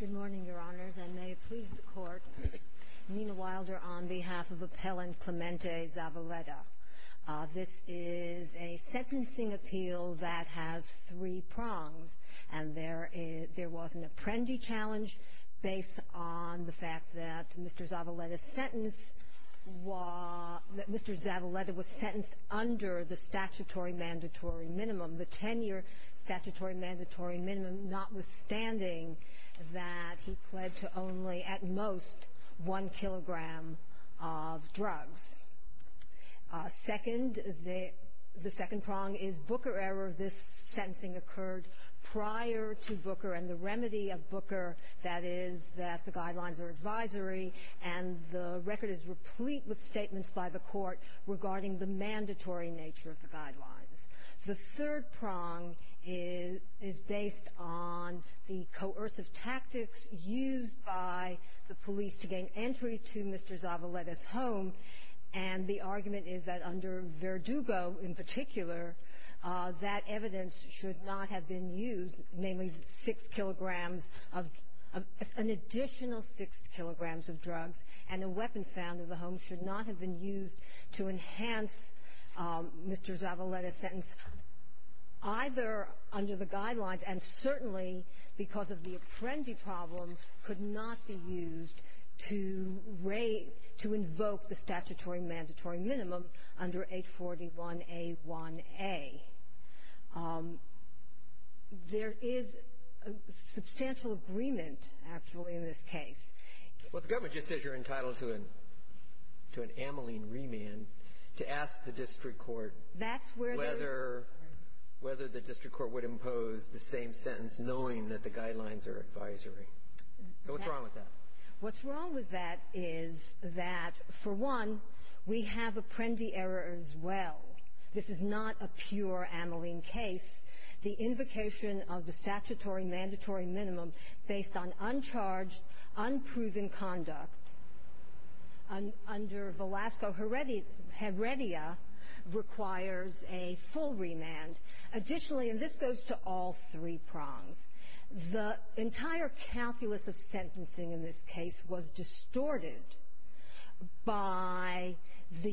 Good morning, Your Honors, and may it please the Court, Nina Wilder on behalf of Appellant Clemente Zavaleta. This is a sentencing appeal that has three prongs, and there was an apprendee challenge based on the fact that Mr. Zavaleta was sentenced under the statutory mandatory minimum, the 10-year statutory mandatory minimum, notwithstanding that he pled to only, at most, one kilogram of drugs. Second, the second prong is Booker error. This sentencing occurred prior to Booker and the remedy of Booker, that is, that the guidelines are advisory and the record is replete with statements by the Court regarding the mandatory nature of the guidelines. The third prong is based on the coercive tactics used by the police to gain entry to Mr. Zavaleta's home. Under Verdugo, in particular, that evidence should not have been used, namely six kilograms of an additional six kilograms of drugs and a weapon found in the home should not have been used to enhance Mr. Zavaleta's sentence, either under the guidelines and certainly because of the under 841A1A. There is substantial agreement, actually, in this case. Well, the government just says you're entitled to an amylene remand to ask the district court whether the district court would impose the same sentence knowing that the guidelines are advisory. So what's wrong with that? What's wrong with that is that, for one, we have Apprendi error as well. This is not a pure amylene case. The invocation of the statutory mandatory minimum based on uncharged, unproven conduct under Velasco Heredia requires a full remand. Additionally, and this goes to all three prongs, the entire calculus of sentencing in this case was distorted by the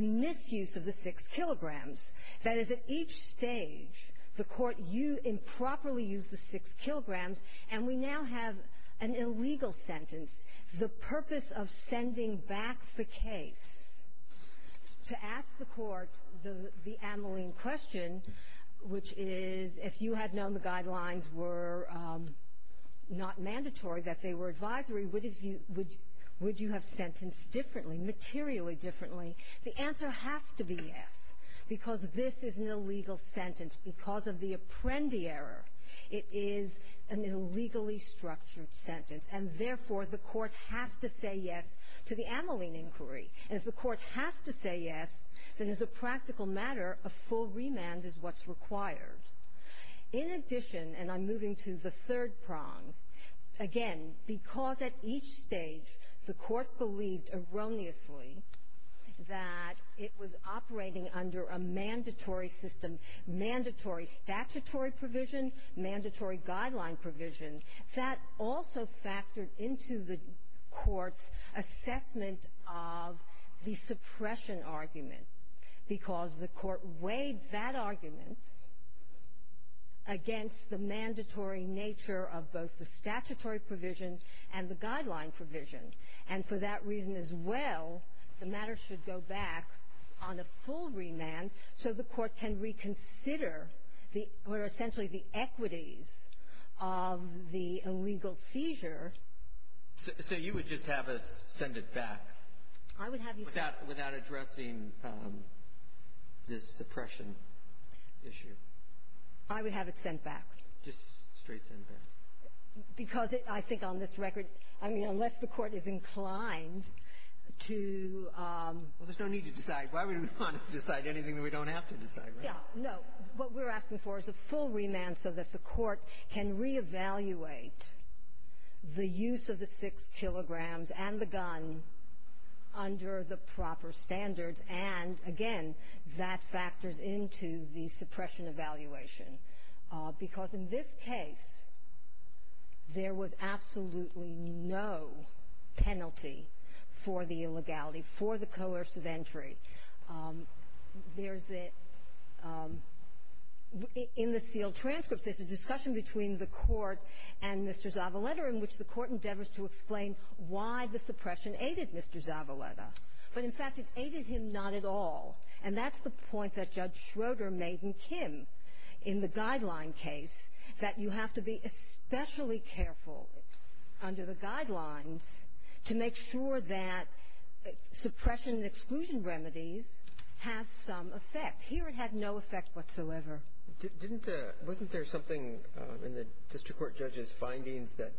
misuse of the six kilograms. That is, at each stage, the court improperly used the six kilograms, and we now have an illegal sentence. The purpose of sending back the case to ask the court the amylene question, which is, if you had known the guidelines were not mandatory, that they were advisory, would you have sentenced differently, materially differently? The answer has to be yes, because this is an illegal sentence because of the Apprendi error. It is an illegally structured sentence, and therefore, the court has to say yes to the amylene inquiry. And if the court has to say yes, then as a In addition, and I'm moving to the third prong, again, because at each stage, the court believed erroneously that it was operating under a mandatory system, mandatory statutory provision, mandatory guideline provision, that also factored into the court's assessment of the suppression argument, because the court weighed that argument against the mandatory nature of both the statutory provision and the guideline provision. And for that reason, as well, the matter should go back on a full remand so the court can reconsider the or essentially the equities of the illegal seizure. So you would just have us send it back? I would have you send it back. Without addressing this suppression issue? I would have it sent back. Just straight sent back? Because I think on this record, I mean, unless the court is inclined to – Well, there's no need to decide. Why would we want to decide anything that we don't have to decide, right? Yeah. No. What we're asking for is a full remand so that the court can reevaluate the use of the six kilograms and the gun under the proper standards. And again, that factors into the suppression evaluation. Because in this case, there was absolutely no penalty for the illegality, for the coercive entry. There's a – in the sealed transcript, there's a discussion between the court and Mr. Zavalletta in which the court endeavors to explain why the suppression aided Mr. Zavalletta. But in fact, it aided him not at all. And that's the point that Judge Schroeder made in Kim in the guideline case, that you have to be especially careful under the guidelines to make sure that suppression and exclusion remedies have some effect. Here, it had no effect whatsoever. Didn't the – wasn't there something in the district court judge's findings that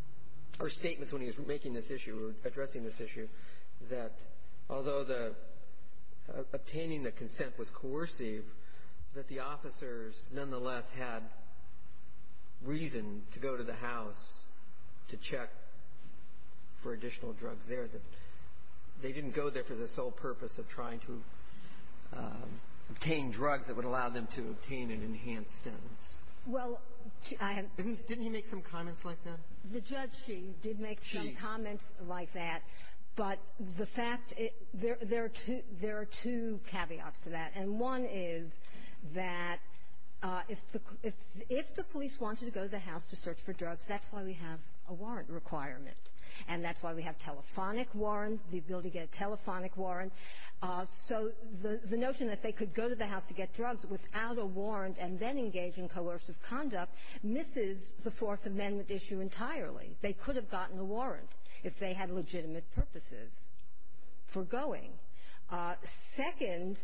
– or statements when he was making this issue or addressing this issue that although the obtaining the consent was coercive, that the officers nonetheless had reason to go to the house to check for additional drugs there, that they didn't go there for the sole purpose of trying to obtain drugs that would allow them to obtain an enhanced sentence? Well, I have to – Didn't he make some comments like that? The judge, she, did make some comments like that. She. But the fact – there are two caveats to that. And one is that if the police wanted to go to the house to search for drugs, that's why we have a warrant requirement. And that's why we have telephonic warrants, the ability to get a telephonic warrant. So the notion that they could go to the house to get drugs without a warrant and then engage in coercive conduct misses the Fourth Amendment issue entirely. They could have gotten a warrant if they had legitimate purposes for going. Second,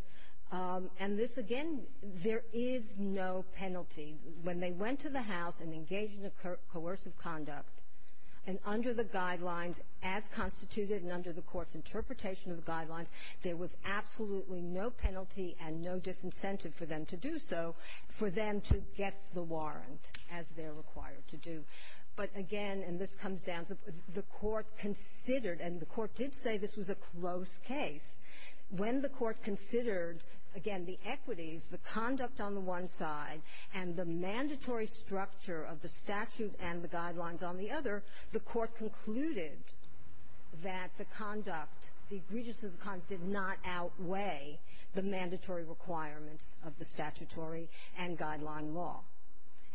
and this, again, there is no penalty. When they went to the house and engaged in coercive conduct, and under the guidelines as constituted and under the court's interpretation of the guidelines, there was absolutely no penalty and no disincentive for them to do so, for them to get the warrant as they're required to do. But again, and this comes down to the court considered – and the court did say this was a close case. When the court considered, again, the equities, the conduct on the one side and the mandatory structure of the statute and the guidelines on the other, the court concluded that the conduct, the egregiousness of the conduct did not outweigh the mandatory requirements of the statutory and guideline law.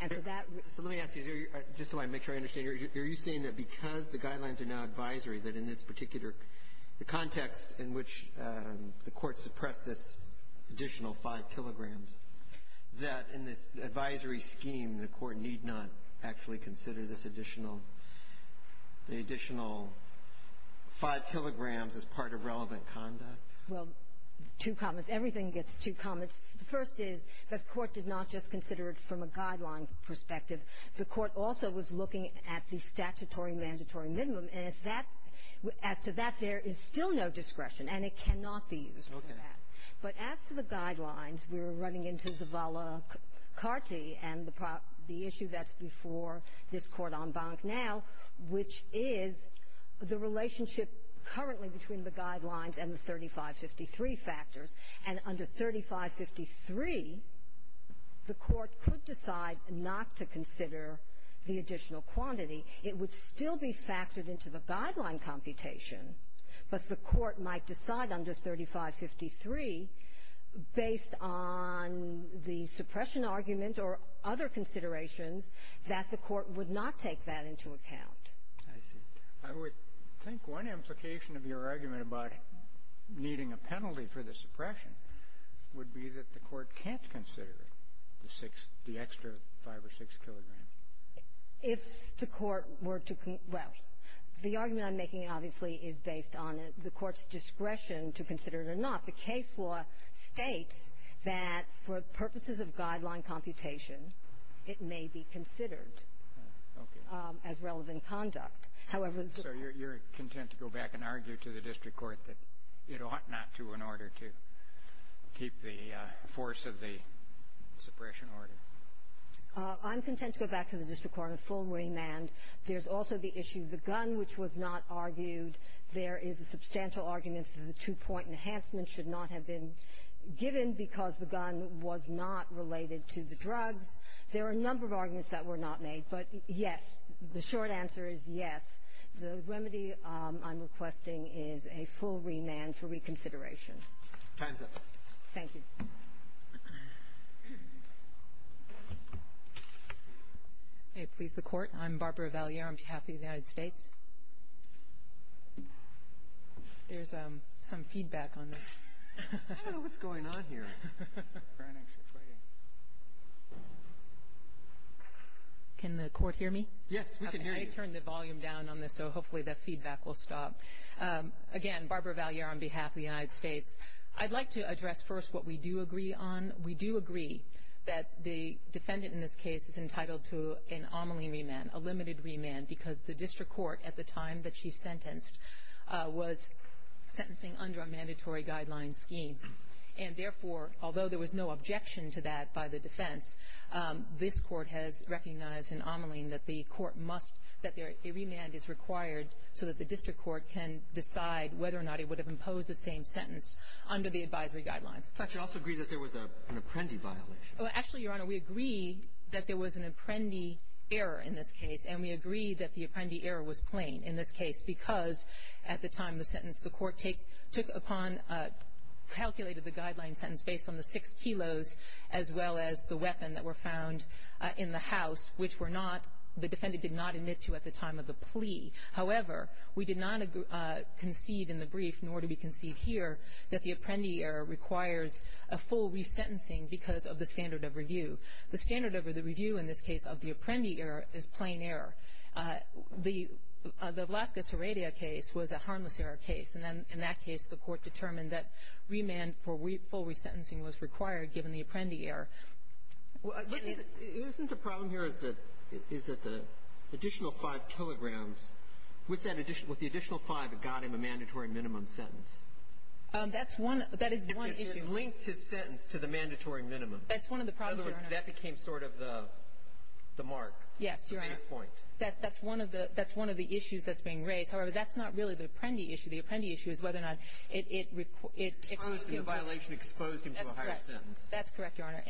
And so that – So let me ask you, just so I make sure I understand. Are you saying that because the guidelines are now advisory, that in this particular – the context in which the court suppressed this additional 5 kilograms, that in this advisory scheme, the court need not actually consider this additional – the additional 5 kilograms as part of relevant conduct? Well, two comments. Everything gets two comments. The first is that the court did not just consider it from a guideline perspective. The court also was looking at the statutory and mandatory minimum, and if that – as to that, there is still no discretion, and it cannot be used for that. Okay. But as to the guidelines, we were running into Zavala-Kharti and the issue that's before this Court en banc now, which is the relationship currently between the guidelines and the 3553 factors. And under 3553, the court could decide not to consider the additional quantity. It would still be factored into the guideline computation, but the court might decide under 3553, based on the suppression argument or other considerations, that the court would not take that into account. I see. I would think one implication of your argument about needing a penalty for the suppression would be that the court can't consider the extra 5 or 6 kilograms. If the court were to – well, the argument I'm making, obviously, is based on the court's discretion to consider it or not. The case law states that for purposes of guideline computation, it may be considered as relevant conduct. However, the court… So you're content to go back and argue to the district court that it ought not to in order to keep the force of the suppression order? I'm content to go back to the district court on a full remand. There's also the issue of the gun, which was not argued. There is a substantial argument that the two-point enhancement should not have been given because the gun was not related to the drugs. There are a number of arguments that were not made, but, yes, the short answer is yes. The remedy I'm requesting is a full remand for reconsideration. Time's up. Thank you. May it please the court, I'm Barbara Valliere on behalf of the United States. There's some feedback on this. I don't know what's going on here. Can the court hear me? Yes, we can hear you. I turned the volume down on this, so hopefully that feedback will stop. Again, Barbara Valliere on behalf of the United States. I'd like to address first what we do agree on. We do agree that the defendant in this case is entitled to an omeling remand, a limited remand, because the district court at the time that she sentenced was sentencing under a mandatory guideline scheme. And therefore, although there was no objection to that by the defense, this court has recognized an omeling that the court must, that a remand is required so that the district court can decide whether or not it would have imposed the same sentence under the advisory guidelines. In fact, you also agree that there was an apprendee violation. Well, actually, Your Honor, we agree that there was an apprendee error in this case, and we agree that the apprendee error was plain in this case because at the time of the sentence, the court took upon, calculated the guideline sentence based on the 6 kilos as well as the weapon that were found in the house, which were not, the defendant did not admit to at the time of the plea. However, we did not concede in the brief, nor do we concede here, that the apprendee error requires a full resentencing because of the standard of review. The standard of the review in this case of the apprendee error is plain error. The Velazquez-Heredia case was a harmless error case. And then in that case, the court determined that remand for full resentencing was required given the apprendee error. Isn't the problem here is that the additional 5 kilograms, with the additional 5, it got him a mandatory minimum sentence? That's one. That is one issue. He linked his sentence to the mandatory minimum. That's one of the problems, Your Honor. In other words, that became sort of the mark. Yes, Your Honor. At this point. That's one of the issues that's being raised. However, that's not really the apprendee issue. The apprendee issue is whether or not it exposed him to a higher sentence. That's correct, Your Honor.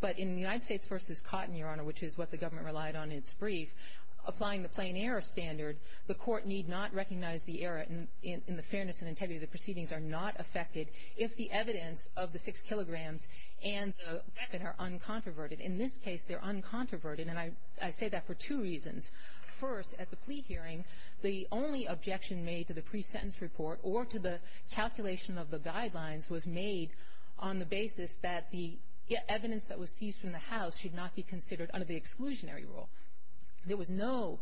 But in United States v. Cotton, Your Honor, which is what the government relied on in its brief, applying the plain error standard, the court need not recognize the error in the fairness and integrity of the proceedings are not affected if the evidence of the 6 kilograms and the weapon are uncontroverted. In this case, they're uncontroverted. And I say that for two reasons. First, at the plea hearing, the only objection made to the pre-sentence report or to the calculation of the guidelines was made on the basis that the evidence that was seized from the house should not be considered under the exclusionary rule. There was no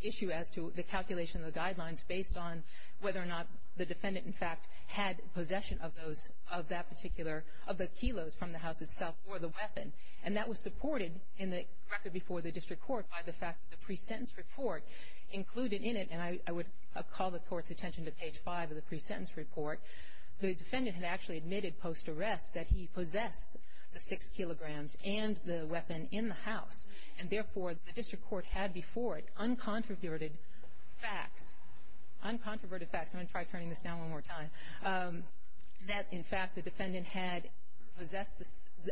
issue as to the calculation of the guidelines based on whether or not the defendant, in fact, had possession of those, of that particular, of the kilos from the house itself or the weapon. And that was supported in the record before the district court by the fact that the pre-sentence report included in it, and I would call the court's attention to page 5 of the pre-sentence report, the defendant had actually admitted post-arrest that he possessed the 6 kilograms and the weapon in the house. And therefore, the district court had before it uncontroverted facts, uncontroverted facts, I'm going to try turning this down one more time, that, in fact, the defendant had possessed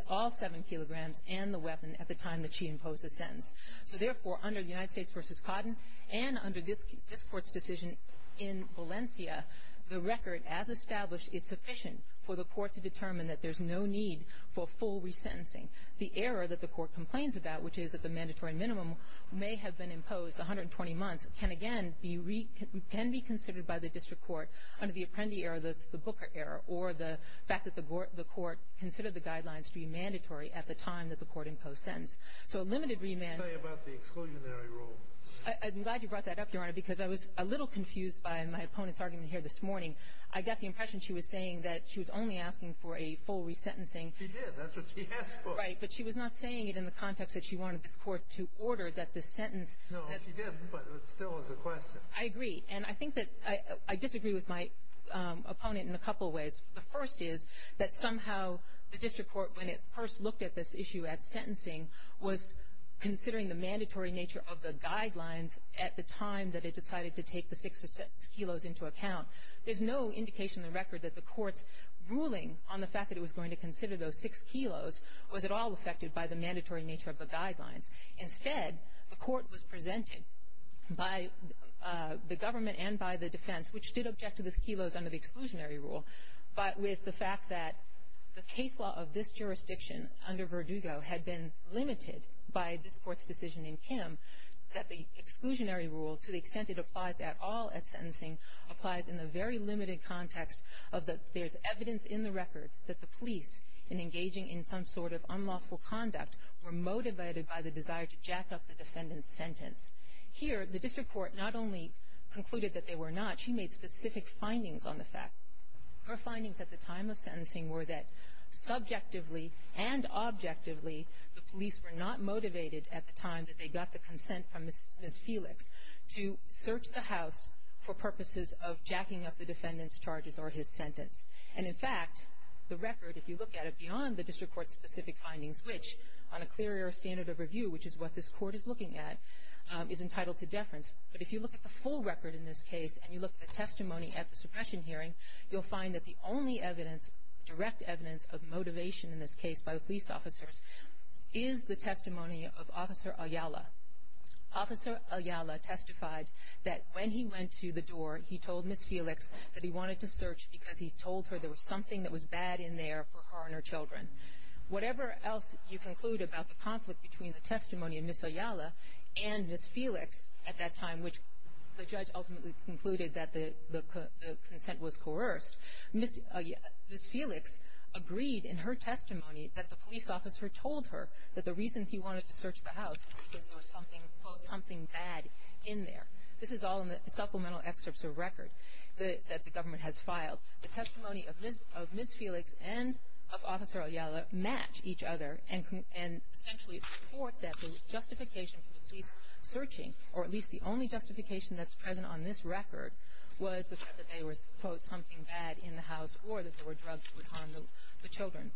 all 7 kilograms and the weapon at the time that she imposed the sentence. So therefore, under the United States v. Codden and under this court's decision in Valencia, the record, as established, is sufficient for the court to determine that there's no need for full resentencing. The error that the court complains about, which is that the mandatory minimum may have been imposed, 120 months, can again be reconsidered by the district court under the Apprendi error, that's the Booker error, or the fact that the court considered the guidelines to be mandatory at the time that the court imposed the sentence. So a limited remand. I'm glad you brought that up, Your Honor, because I was a little confused by my opponent's argument here this morning. I got the impression she was saying that she was only asking for a full resentencing. She did. That's what she asked for. Right. But she was not saying it in the context that she wanted this court to order that the sentence... No, she didn't, but it still was a question. I agree. And I think that I disagree with my opponent in a couple of ways. The first is that somehow the district court, when it first looked at this issue at sentencing, was considering the mandatory nature of the guidelines at the time that it decided to take the 6 kilos into account. There's no indication in the record that the court's ruling on the fact that it was going to consider those 6 kilos was at all affected by the mandatory nature of the guidelines. Instead, the court was presented by the government and by the defense, which did object to those kilos under the exclusionary rule, but with the fact that the case law of this jurisdiction under Verdugo had been limited by this court's decision in Kim, that the exclusionary rule, to the extent it applies at all at sentencing, applies in the very limited context of that there's evidence in the record that the conduct were motivated by the desire to jack up the defendant's sentence. Here, the district court not only concluded that they were not, she made specific findings on the fact. Her findings at the time of sentencing were that subjectively and objectively, the police were not motivated at the time that they got the consent from Ms. Felix to search the house for purposes of jacking up the defendant's charges or his sentence. And in fact, the record, if you look at it which, on a clearer standard of review, which is what this court is looking at, is entitled to deference. But if you look at the full record in this case and you look at the testimony at the suppression hearing, you'll find that the only evidence, direct evidence, of motivation in this case by the police officers is the testimony of Officer Ayala. Officer Ayala testified that when he went to the door, he told Ms. Felix that he wanted to search because he told her there was something that was bad in there for her and her children. Whatever else you conclude about the conflict between the testimony of Ms. Ayala and Ms. Felix at that time, which the judge ultimately concluded that the consent was coerced, Ms. Felix agreed in her testimony that the police officer told her that the reason he wanted to search the house was because there was something bad in there. This is all in the supplemental excerpts of record that the government has filed. The testimony of Ms. Felix and of Officer Ayala match each other and essentially support that the justification for the police searching, or at least the only justification that's present on this record, was the fact that there was, quote, something bad in the house or that there were drugs that would harm the children.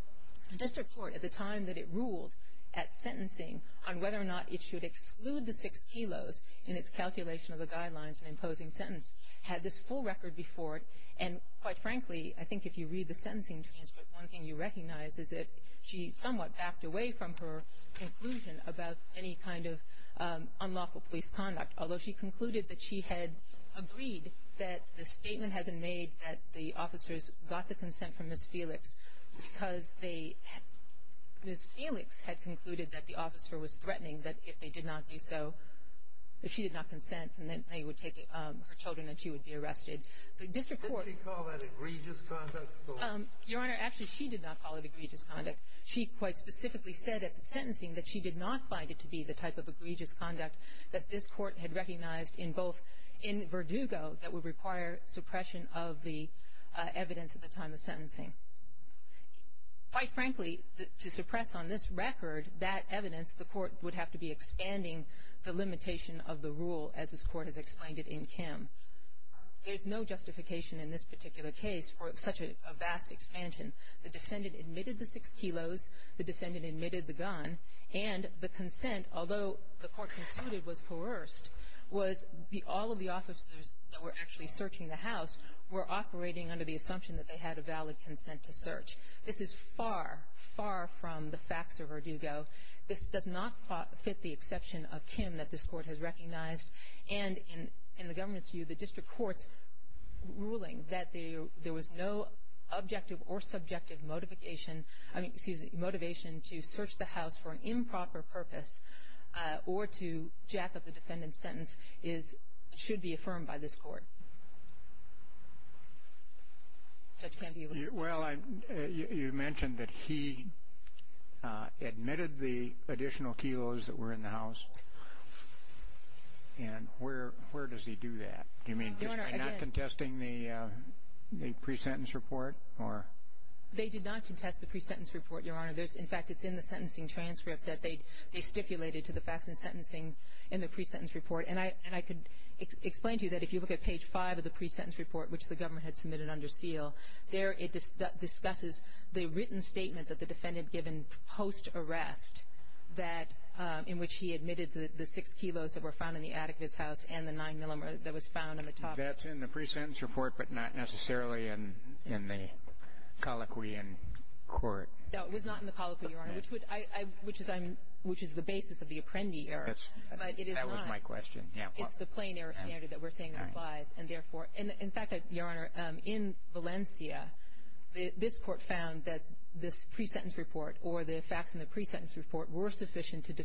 The district court, at the time that it ruled at sentencing on whether or not it should exclude the six kilos in its calculation of the guidelines and frankly, I think if you read the sentencing transcript, one thing you recognize is that she somewhat backed away from her conclusion about any kind of unlawful police conduct, although she concluded that she had agreed that the statement had been made that the officers got the consent from Ms. Felix because Ms. Felix had concluded that the officer was threatening that if they did not do so, if she did not consent, then they would take her children and she would be arrested. The district court — Did she call that egregious conduct, though? Your Honor, actually she did not call it egregious conduct. She quite specifically said at the sentencing that she did not find it to be the type of egregious conduct that this court had recognized in both — in Verdugo that would require suppression of the evidence at the time of sentencing. Quite frankly, to suppress on this record that evidence, the court would have to be There's no justification in this particular case for such a vast expansion. The defendant admitted the six kilos. The defendant admitted the gun. And the consent, although the court concluded was coerced, was all of the officers that were actually searching the house were operating under the assumption that they had a valid consent to search. This is far, far from the facts of Verdugo. This does not fit the exception of Kim that this court has recognized. And in the government's view, the district court's ruling that there was no objective or subjective motivation — I mean, excuse me — motivation to search the house for an improper purpose or to jack up the defendant's sentence is — should be affirmed by this court. The judge can't be able to say. Well, you mentioned that he admitted the additional kilos that were in the house. And where does he do that? Do you mean just by not contesting the pre-sentence report, or — They did not contest the pre-sentence report, Your Honor. In fact, it's in the sentencing transcript that they stipulated to the facts and sentencing in the pre-sentence report. And I could explain to you that if you look at page five of the pre-sentence report, which the government had submitted under seal, there it discusses the written statement that the defendant given post-arrest that — in which he the six kilos that were found in the attic of his house and the nine-millimeter that was found on the top of it. That's in the pre-sentence report, but not necessarily in the colloquy in court. No, it was not in the colloquy, Your Honor, which would — I — which is I'm — which is the basis of the Apprendi Error. That's — But it is not. That was my question. Yeah. It's the plain error standard that we're saying applies. And therefore — in fact, Your Honor, in Valencia, this court found that this pre-sentence report or the facts in the pre-sentence report were sufficient to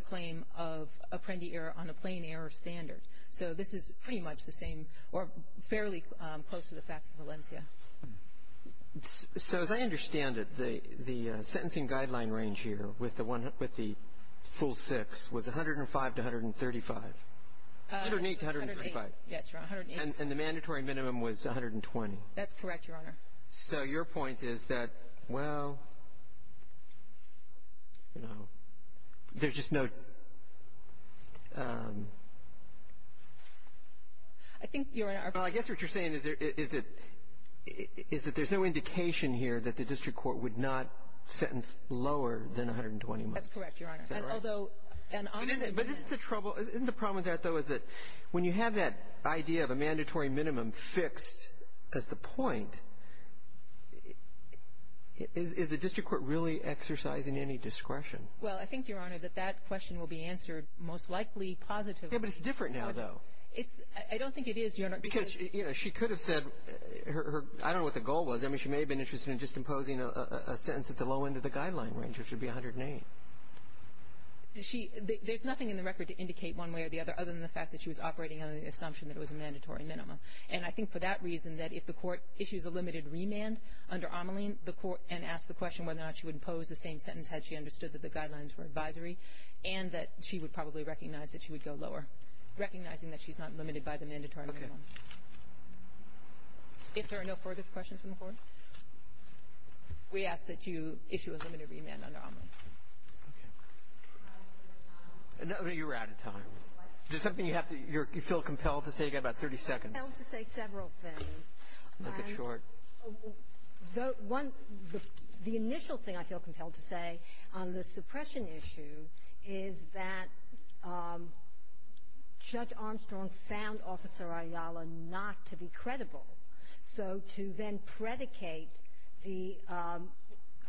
claim of Apprendi Error on a plain error standard. So this is pretty much the same — or fairly close to the facts in Valencia. So as I understand it, the sentencing guideline range here with the one — with the full six was 105 to 135 — 108 to 135. Yes, Your Honor, 108. And the mandatory minimum was 120. That's correct, Your Honor. So your point is that, well, you know, there's just no — I think, Your Honor, our point — Well, I guess what you're saying is there — is that — is that there's no indication here that the district court would not sentence lower than 120 months. That's correct, Your Honor. Is that right? Although, and honestly — But isn't — but isn't the trouble — isn't the problem with that, though, is that when you have that idea of a mandatory minimum fixed as the point, is the district court really exercising any discretion? Well, I think, Your Honor, that that question will be answered most likely positively. Yeah, but it's different now, though. It's — I don't think it is, Your Honor, because — Because, you know, she could have said her — I don't know what the goal was. I mean, she may have been interested in just imposing a sentence at the low end of the guideline range, which would be 108. She — there's nothing in the record to indicate one way or the other other than the fact that she was operating on the assumption that it was a mandatory minimum. And I think, for that reason, that if the court issues a limited remand under Omelin, the court — and asks the question whether or not she would impose the same sentence had she understood that the guidelines were advisory, and that she would probably recognize that she would go lower, recognizing that she's not limited by the mandatory minimum. Okay. If there are no further questions from the court, we ask that you issue a limited remand under Omelin. Okay. I'm out of time. No, you're out of time. Why? Is there something you have to — you feel compelled to say? You've got about 30 seconds. I'm compelled to say several things. Okay. Make it short. The — one — the initial thing I feel compelled to say on the suppression issue is that Judge Armstrong found Officer Ayala not to be credible. So to then predicate the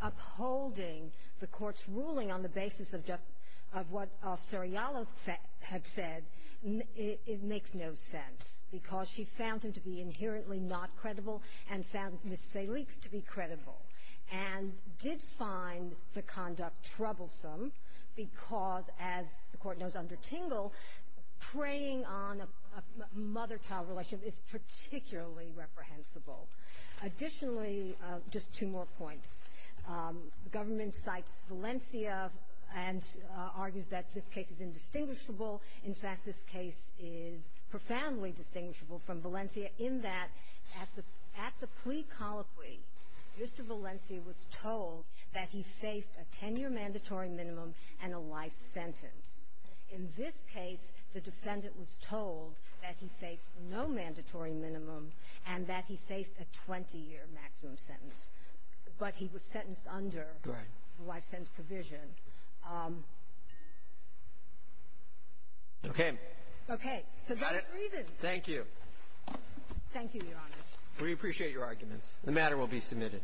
upholding the court's ruling on the basis of just — of what Officer Ayala had said, it makes no sense, because she found him to be inherently not credible and found Ms. Felix to be credible, and did find the conduct troublesome, because, as the court knows under Tingle, preying on a mother-child relationship is particularly reprehensible. Additionally — just two more points — the government cites Valencia and argues that this case is indistinguishable. In fact, this case is profoundly distinguishable from Valencia in that at the — at the plea colloquy, Mr. Valencia was told that he faced a 10-year mandatory minimum and a life sentence. In this case, the defendant was told that he faced no mandatory minimum and that he faced a 20-year maximum sentence. But he was sentenced under — Right. Under the life sentence provision. Okay. Okay. So those reasons — Got it? Thank you. Thank you, Your Honor. We appreciate your arguments. The matter will be submitted.